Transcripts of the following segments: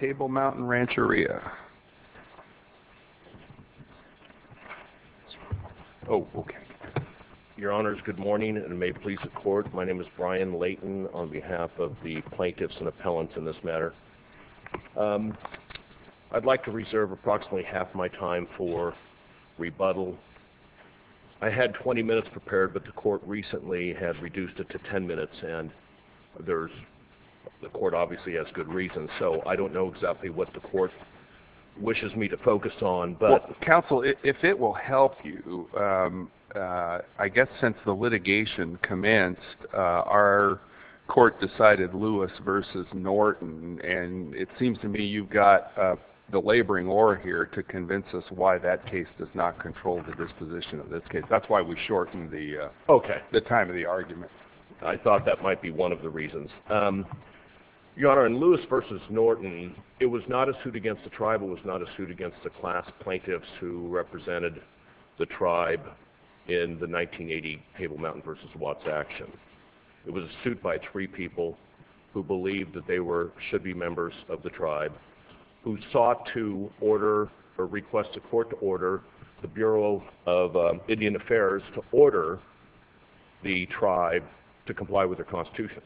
Table Mountain Rancheria Your honors good morning, and may it please the court my name is Brian Layton on behalf of the plaintiffs and appellants in this matter I'd like to reserve approximately half my time for rebuttal I Had 20 minutes prepared, but the court recently has reduced it to 10 minutes, and there's The court obviously has good reasons, so I don't know exactly what the court Wishes me to focus on but counsel if it will help you I guess since the litigation commenced our Court decided Lewis versus Norton, and it seems to me You've got the laboring or here to convince us why that case does not control the disposition of this case That's why we shorten the okay the time of the argument. I thought that might be one of the reasons Your honor in Lewis versus Norton. It was not a suit against the tribal was not a suit against the class plaintiffs who? Represented the tribe in the 1980 Table Mountain versus Watts action It was a suit by three people who believed that they were should be members of the tribe Who sought to order or request the court to order the Bureau of? Indian Affairs to order the tribe to comply with their Constitution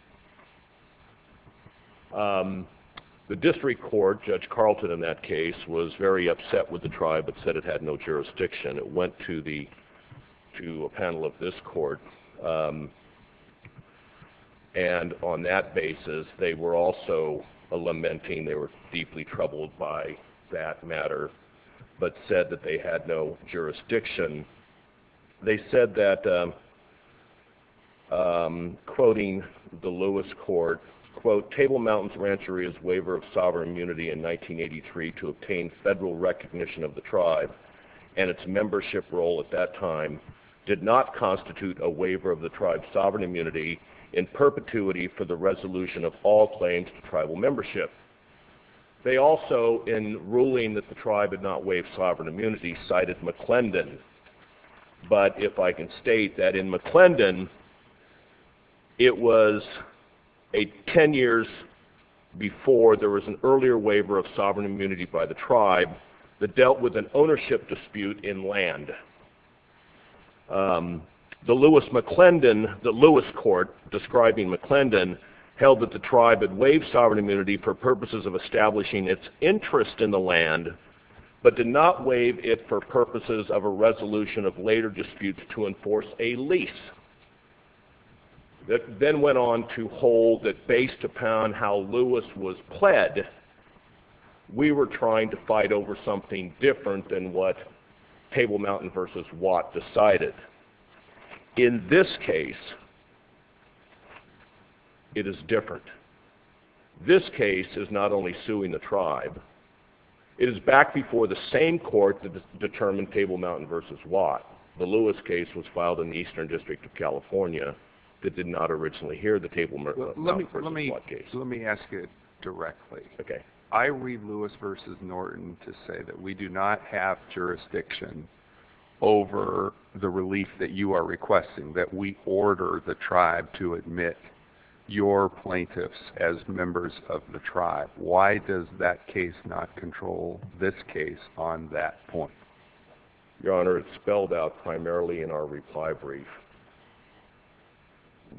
The District Court judge Carlton in that case was very upset with the tribe, but said it had no jurisdiction it went to the to a panel of this court and on that basis they were also Lamenting they were deeply troubled by that matter, but said that they had no jurisdiction they said that Quoting the Lewis court quote Table Mountains Rancher is waiver of sovereign immunity in 1983 to obtain federal recognition of the tribe and its membership role at that time Did not constitute a waiver of the tribe sovereign immunity in perpetuity for the resolution of all claims to tribal membership They also in ruling that the tribe had not waived sovereign immunity cited McClendon but if I can state that in McClendon it was a ten years Before there was an earlier waiver of sovereign immunity by the tribe that dealt with an ownership dispute in land The Lewis McClendon the Lewis court Describing McClendon held that the tribe had waived sovereign immunity for purposes of establishing its interest in the land But did not waive it for purposes of a resolution of later disputes to enforce a lease That then went on to hold that based upon how Lewis was pled We were trying to fight over something different than what? Table Mountain versus watt decided in this case It is different This case is not only suing the tribe It is back before the same court that determined Table Mountain versus watt the Lewis case was filed in the Eastern District of California That did not originally hear the table. Let me let me let me ask it directly Okay, I read Lewis versus Norton to say that we do not have jurisdiction Over the relief that you are requesting that we order the tribe to admit Your plaintiffs as members of the tribe. Why does that case not control this case on that point? Your honor. It's spelled out primarily in our reply brief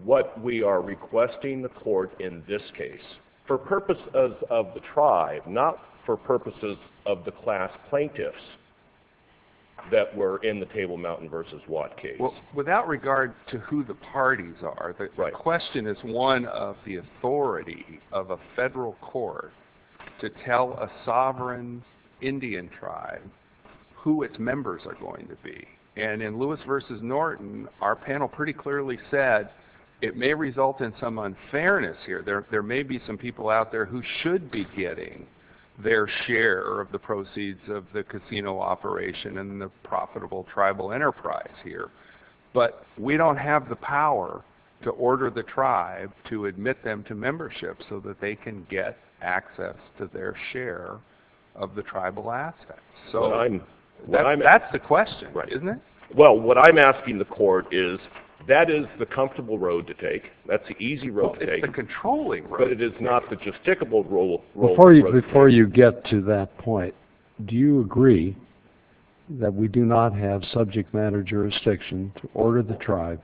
What we are requesting the court in this case for purposes of the tribe not for purposes of the class plaintiffs That were in the Table Mountain versus watt case without regard to who the parties are The question is one of the authority of a federal court to tell a sovereign Indian tribe Who its members are going to be and in Lewis versus Norton our panel pretty clearly said It may result in some unfairness here There may be some people out there who should be getting Their share of the proceeds of the casino operation and the profitable tribal enterprise here But we don't have the power to order the tribe to admit them to membership so that they can get access to their share of the tribal assets So I'm what I'm that's the question right isn't it? Well what I'm asking the court is that is the comfortable road to take that's the easy road Controlling, but it is not the justicable rule before you before you get to that point. Do you agree that? We do not have subject matter jurisdiction to order the tribe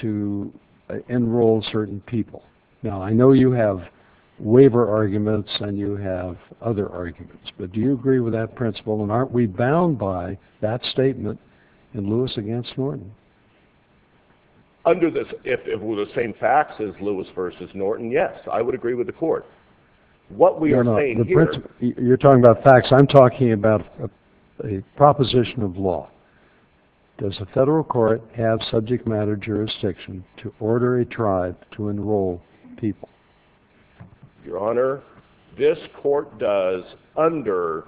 to Enroll certain people now. I know you have Waiver arguments, and you have other arguments, but do you agree with that principle and aren't we bound by that statement in? Lewis against Norton Under this if it were the same facts as Lewis versus Norton yes, I would agree with the court What we are not you're talking about facts. I'm talking about a proposition of law Does the federal court have subject matter jurisdiction to order a tribe to enroll people? Your honor this court does under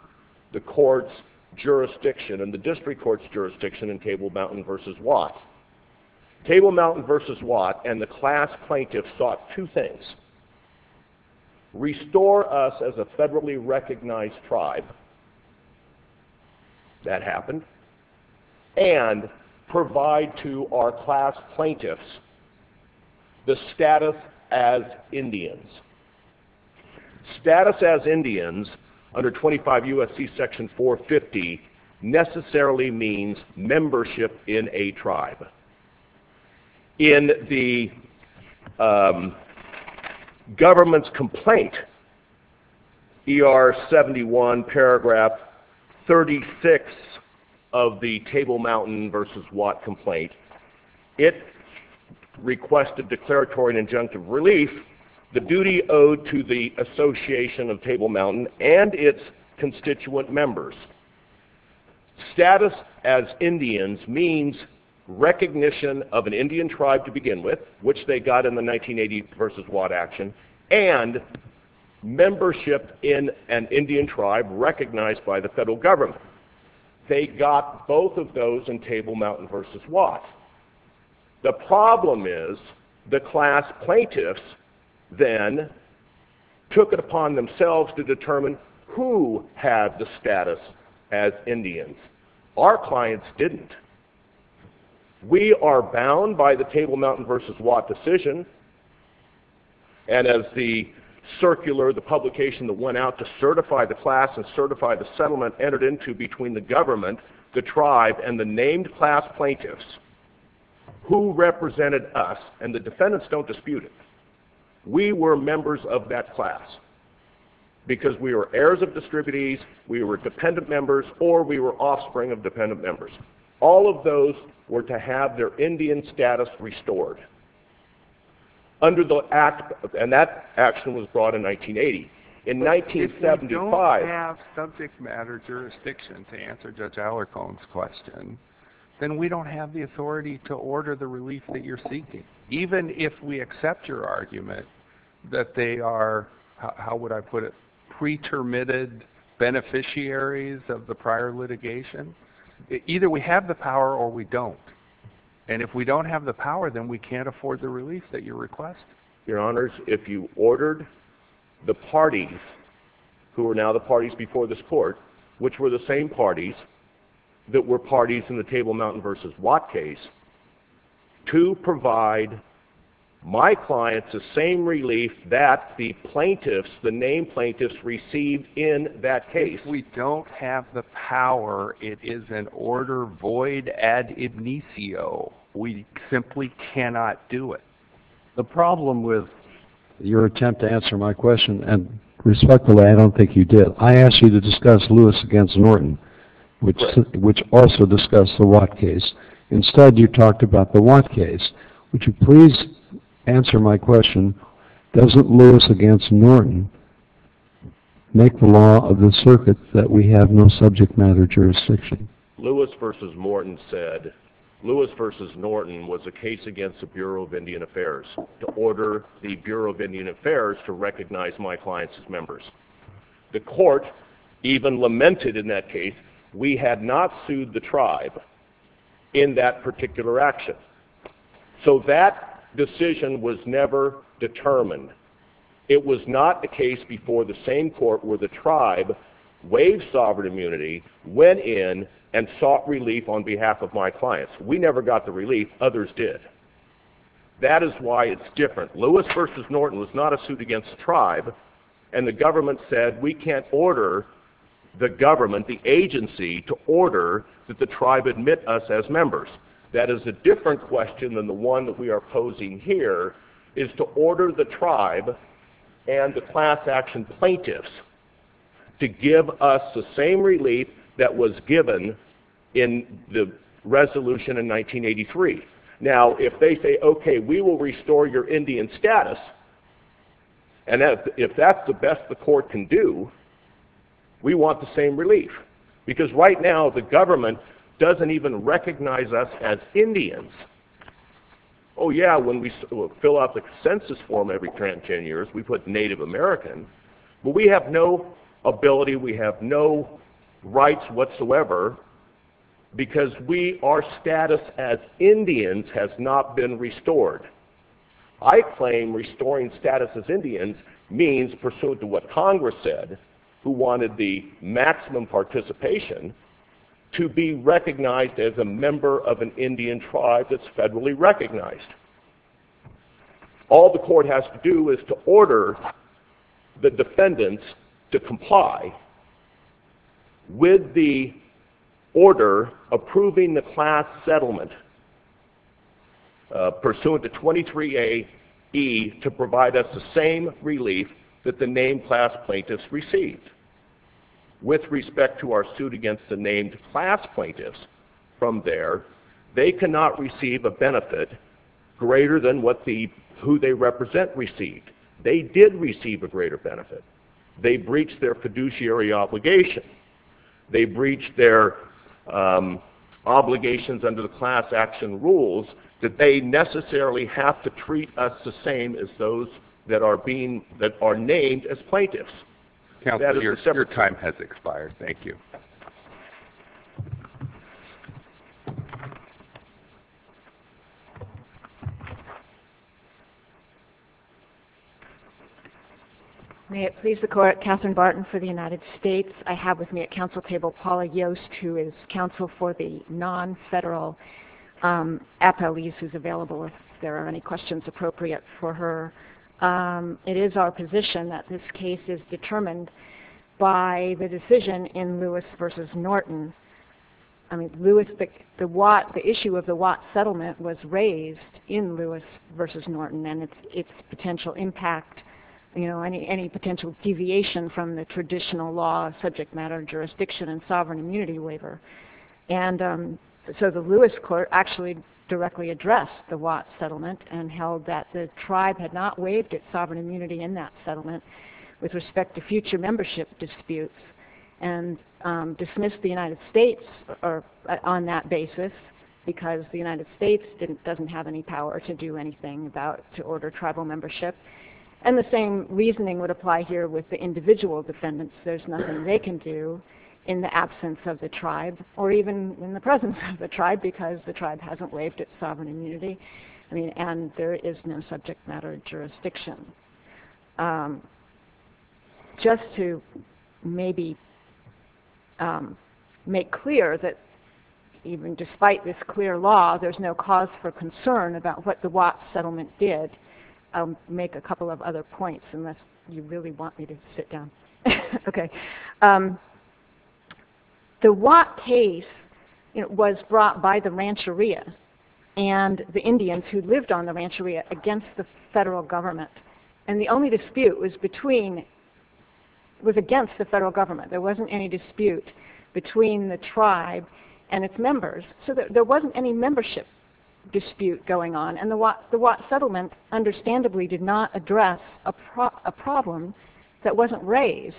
the courts Jurisdiction and the district courts jurisdiction in Table Mountain versus Watt Table Mountain versus Watt and the class plaintiffs sought two things Restore us as a federally recognized tribe That happened and Provide to our class plaintiffs the status as Indians Status as Indians under 25 USC section 450 Necessarily means membership in a tribe in the Government's complaint Er 71 paragraph 36 of the Table Mountain versus Watt complaint it Requested declaratory and injunctive relief the duty owed to the Association of Table Mountain and its constituent members Status as Indians means recognition of an Indian tribe to begin with which they got in the 1980 versus Watt action and Membership in an Indian tribe recognized by the federal government They got both of those in Table Mountain versus Watt The problem is the class plaintiffs then Took it upon themselves to determine who had the status as Indians our clients didn't we are bound by the Table Mountain versus Watt decision and as the Circular the publication that went out to certify the class and certify the settlement entered into between the government the tribe and the named class plaintiffs Who represented us and the defendants don't dispute it? We were members of that class Because we were heirs of distributies We were dependent members or we were offspring of dependent members all of those were to have their Indian status restored Under the act and that action was brought in 1980 in 1975 subject matter Jurisdiction to answer judge our cones question Then we don't have the authority to order the relief that you're seeking even if we accept your argument that they are How would I put it? pretermitted beneficiaries of the prior litigation Either we have the power or we don't and if we don't have the power then we can't afford the relief that you request Your honors if you ordered The parties Who are now the parties before this court, which were the same parties? That were parties in the Table Mountain versus Watt case to provide My clients the same relief that the plaintiffs the name plaintiffs received in that case We don't have the power. It is an order void We simply cannot do it the problem with Your attempt to answer my question and respectfully. I don't think you did I asked you to discuss Lewis against Norton, which which also discussed the Watt case Instead you talked about the Watt case, which you please Answer my question Doesn't Lewis against Norton Make the law of the circuit that we have no subject matter jurisdiction Lewis versus Morton said Lewis versus Norton was a case against the Bureau of Indian Affairs To order the Bureau of Indian Affairs to recognize my clients as members The court even lamented in that case. We had not sued the tribe in that particular action So that decision was never Determined it was not the case before the same court where the tribe Waves sovereign immunity went in and sought relief on behalf of my clients. We never got the relief others did That is why it's different Lewis versus Norton was not a suit against tribe and the government said we can't order The government the agency to order that the tribe admit us as members That is a different question than the one that we are posing here is to order the tribe and the class-action plaintiffs to give us the same relief that was given in the resolution in 1983 now if they say okay, we will restore your Indian status and As if that's the best the court can do We want the same relief because right now the government doesn't even recognize us as Indians. Oh Yeah, when we fill out the consensus form every 10 years we put Native Americans, but we have no ability We have no rights whatsoever Because we our status as Indians has not been restored. I Wanted the maximum participation To be recognized as a member of an Indian tribe that's federally recognized All the court has to do is to order the defendants to comply With the order approving the class settlement Pursuant to 23 a e to provide us the same relief that the name class plaintiffs received With respect to our suit against the named class plaintiffs from there. They cannot receive a benefit Greater than what the who they represent received. They did receive a greater benefit. They breached their fiduciary obligation they breached their Obligations under the class-action rules that they Necessarily have to treat us the same as those that are being that are named as plaintiffs Yeah, your time has expired. Thank you May it please the court Catherine Barton for the United States. I have with me at council table Paula Yost who is counsel for the non-federal Apoese is available if there are any questions appropriate for her It is our position that this case is determined by the decision in Lewis versus Norton I mean Lewis pick the watt the issue of the watt settlement was raised in Lewis versus Norton And it's its potential impact you know any any potential deviation from the traditional law subject matter jurisdiction and sovereign immunity waiver and So the Lewis court actually directly addressed the watt settlement and held that the tribe had not waived its sovereign immunity in that settlement with respect to future membership disputes and Dismissed the United States are on that basis Because the United States didn't doesn't have any power to do anything about to order tribal membership And the same reasoning would apply here with the individual defendants There's nothing they can do in the absence of the tribe or even in the presence of the tribe because the tribe hasn't waived It's sovereign immunity. I mean and there is no subject matter jurisdiction Just to maybe Make clear that Even despite this clear law, there's no cause for concern about what the watt settlement did Make a couple of other points unless you really want me to sit down Okay The watt case it was brought by the Rancheria and The Indians who lived on the Rancheria against the federal government and the only dispute was between Was against the federal government there wasn't any dispute between the tribe and its members so that there wasn't any membership Dispute going on and the what the watt settlement Understandably did not address a Problem that wasn't raised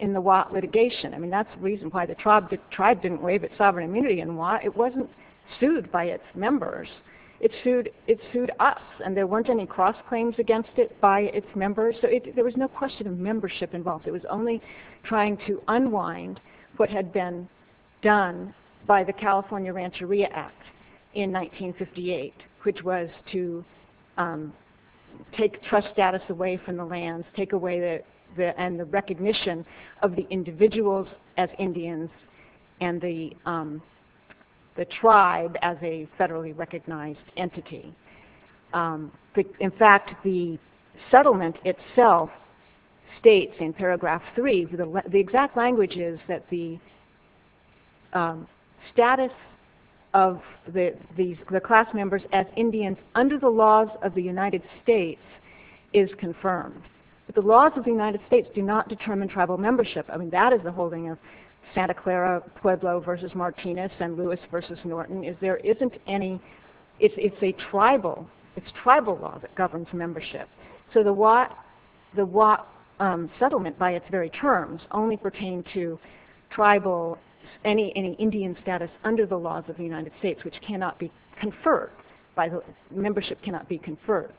in the watt litigation I mean, that's the reason why the tribe the tribe didn't waive its sovereign immunity and why it wasn't sued by its members It sued it sued us and there weren't any cross claims against it by its members So it there was no question of membership involved. It was only trying to unwind what had been done by the California Rancheria Act in 1958 which was to take trust status away from the lands take away that there and the recognition of the individuals as Indians and the The tribe as a federally recognized entity in fact the settlement itself states in paragraph three the exact language is that the Status of the these the class members as Indians under the laws of the United States is Confirmed but the laws of the United States do not determine tribal membership. I mean that is the holding of Santa Clara Pueblo versus Martinez and Lewis versus Norton is there isn't any it's a tribal It's tribal law that governs membership. So the what the what? settlement by its very terms only pertain to Tribal any any Indian status under the laws of the United States, which cannot be conferred by the membership cannot be conferred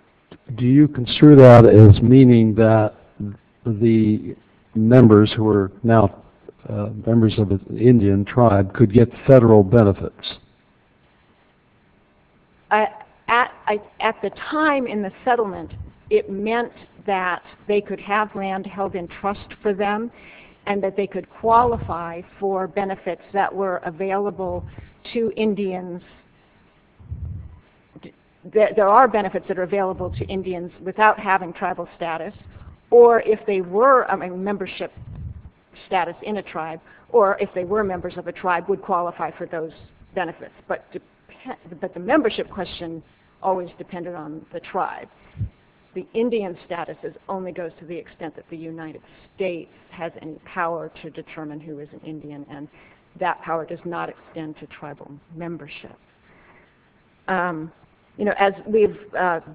Do you consider that as meaning that? the members who are now members of the Indian tribe could get federal benefits At at at the time in the settlement It meant that they could have land held in trust for them and that they could qualify For benefits that were available to Indians There are benefits that are available to Indians without having tribal status or if they were a membership status in a tribe or if they were members of a tribe would qualify for those benefits, but But the membership question always depended on the tribe the Indian statuses only goes to the extent that the United States has any power to determine who is an Indian and That power does not extend to tribal membership You know as we've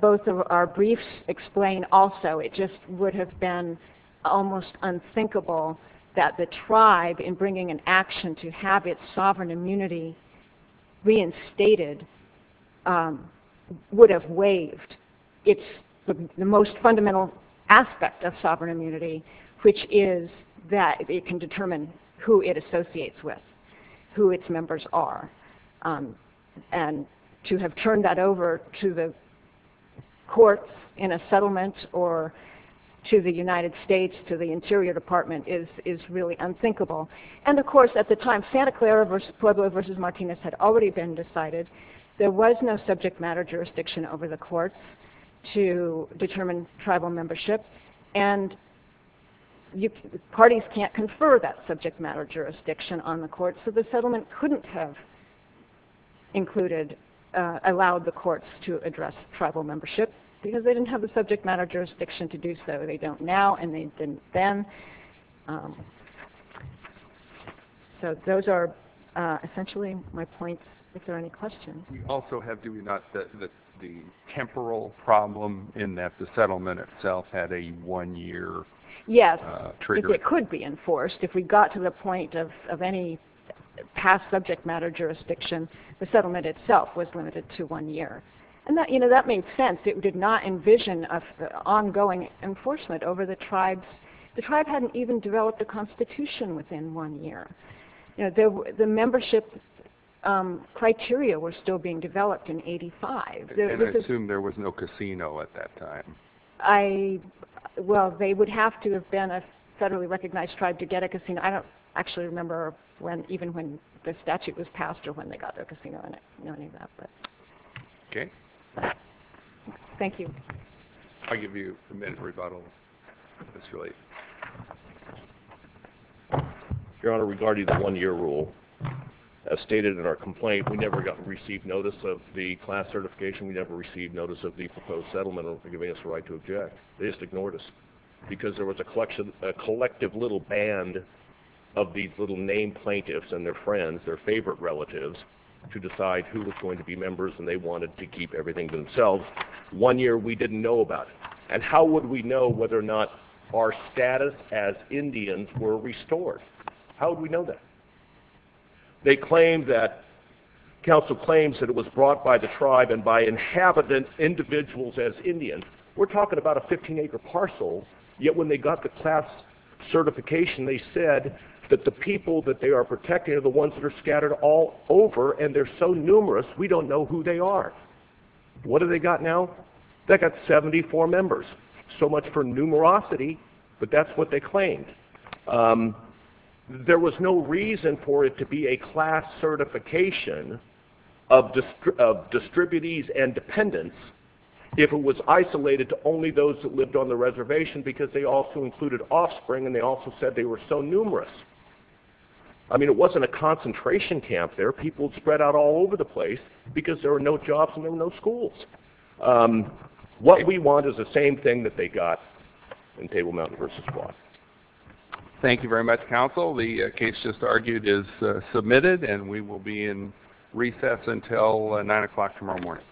both of our briefs explain also it just would have been Almost unthinkable that the tribe in bringing an action to have its sovereign immunity reinstated Would have waived its most fundamental Aspect of sovereign immunity, which is that it can determine who it associates with who its members are and to have turned that over to the courts in a settlement or To the United States to the Interior Department is is really unthinkable And of course at the time Santa Clara versus Pueblo versus Martinez had already been decided There was no subject matter jurisdiction over the courts to determine tribal membership and You parties can't confer that subject matter jurisdiction on the court. So the settlement couldn't have included Allowed the courts to address tribal membership because they didn't have the subject matter jurisdiction to do so they don't now and they didn't then So those are Essentially my points if there are any questions We also have do we not that the temporal problem in that the settlement itself had a one-year Yes, it could be enforced if we got to the point of any Past subject matter jurisdiction the settlement itself was limited to one year and that you know that made sense It did not envision of ongoing Enforcement over the tribes the tribe hadn't even developed a constitution within one year You know the membership Criteria were still being developed in 85 assume there was no casino at that time. I Well, they would have to have been a federally recognized tribe to get a casino I don't actually remember when even when the statute was passed or when they got their casino in it. No need that but Okay Thank you. I'll give you a minute rebuttal. That's really Your Honor regarding the one-year rule Stated in our complaint. We never got received notice of the class certification We never received notice of the proposed settlement of giving us the right to object They just ignored us because there was a collection a collective little band of These little name plaintiffs and their friends their favorite relatives to decide who was going to be members and they wanted to keep everything to themselves One year we didn't know about and how would we know whether or not our status as Indians were restored How do we know that? they claim that Council claims that it was brought by the tribe and by inhabitant Individuals as Indians we're talking about a 15 acre parcel yet when they got the class Certification they said that the people that they are protecting are the ones that are scattered all over and they're so numerous We don't know who they are What do they got now that got 74 members so much for numerosity, but that's what they claimed There was no reason for it to be a class certification of Distribute ease and dependence If it was isolated to only those that lived on the reservation because they also included offspring and they also said they were so numerous I Know jobs in those schools What we want is the same thing that they got in Table Mountain versus Thank you very much counsel. The case just argued is submitted and we will be in recess until 9 o'clock tomorrow morning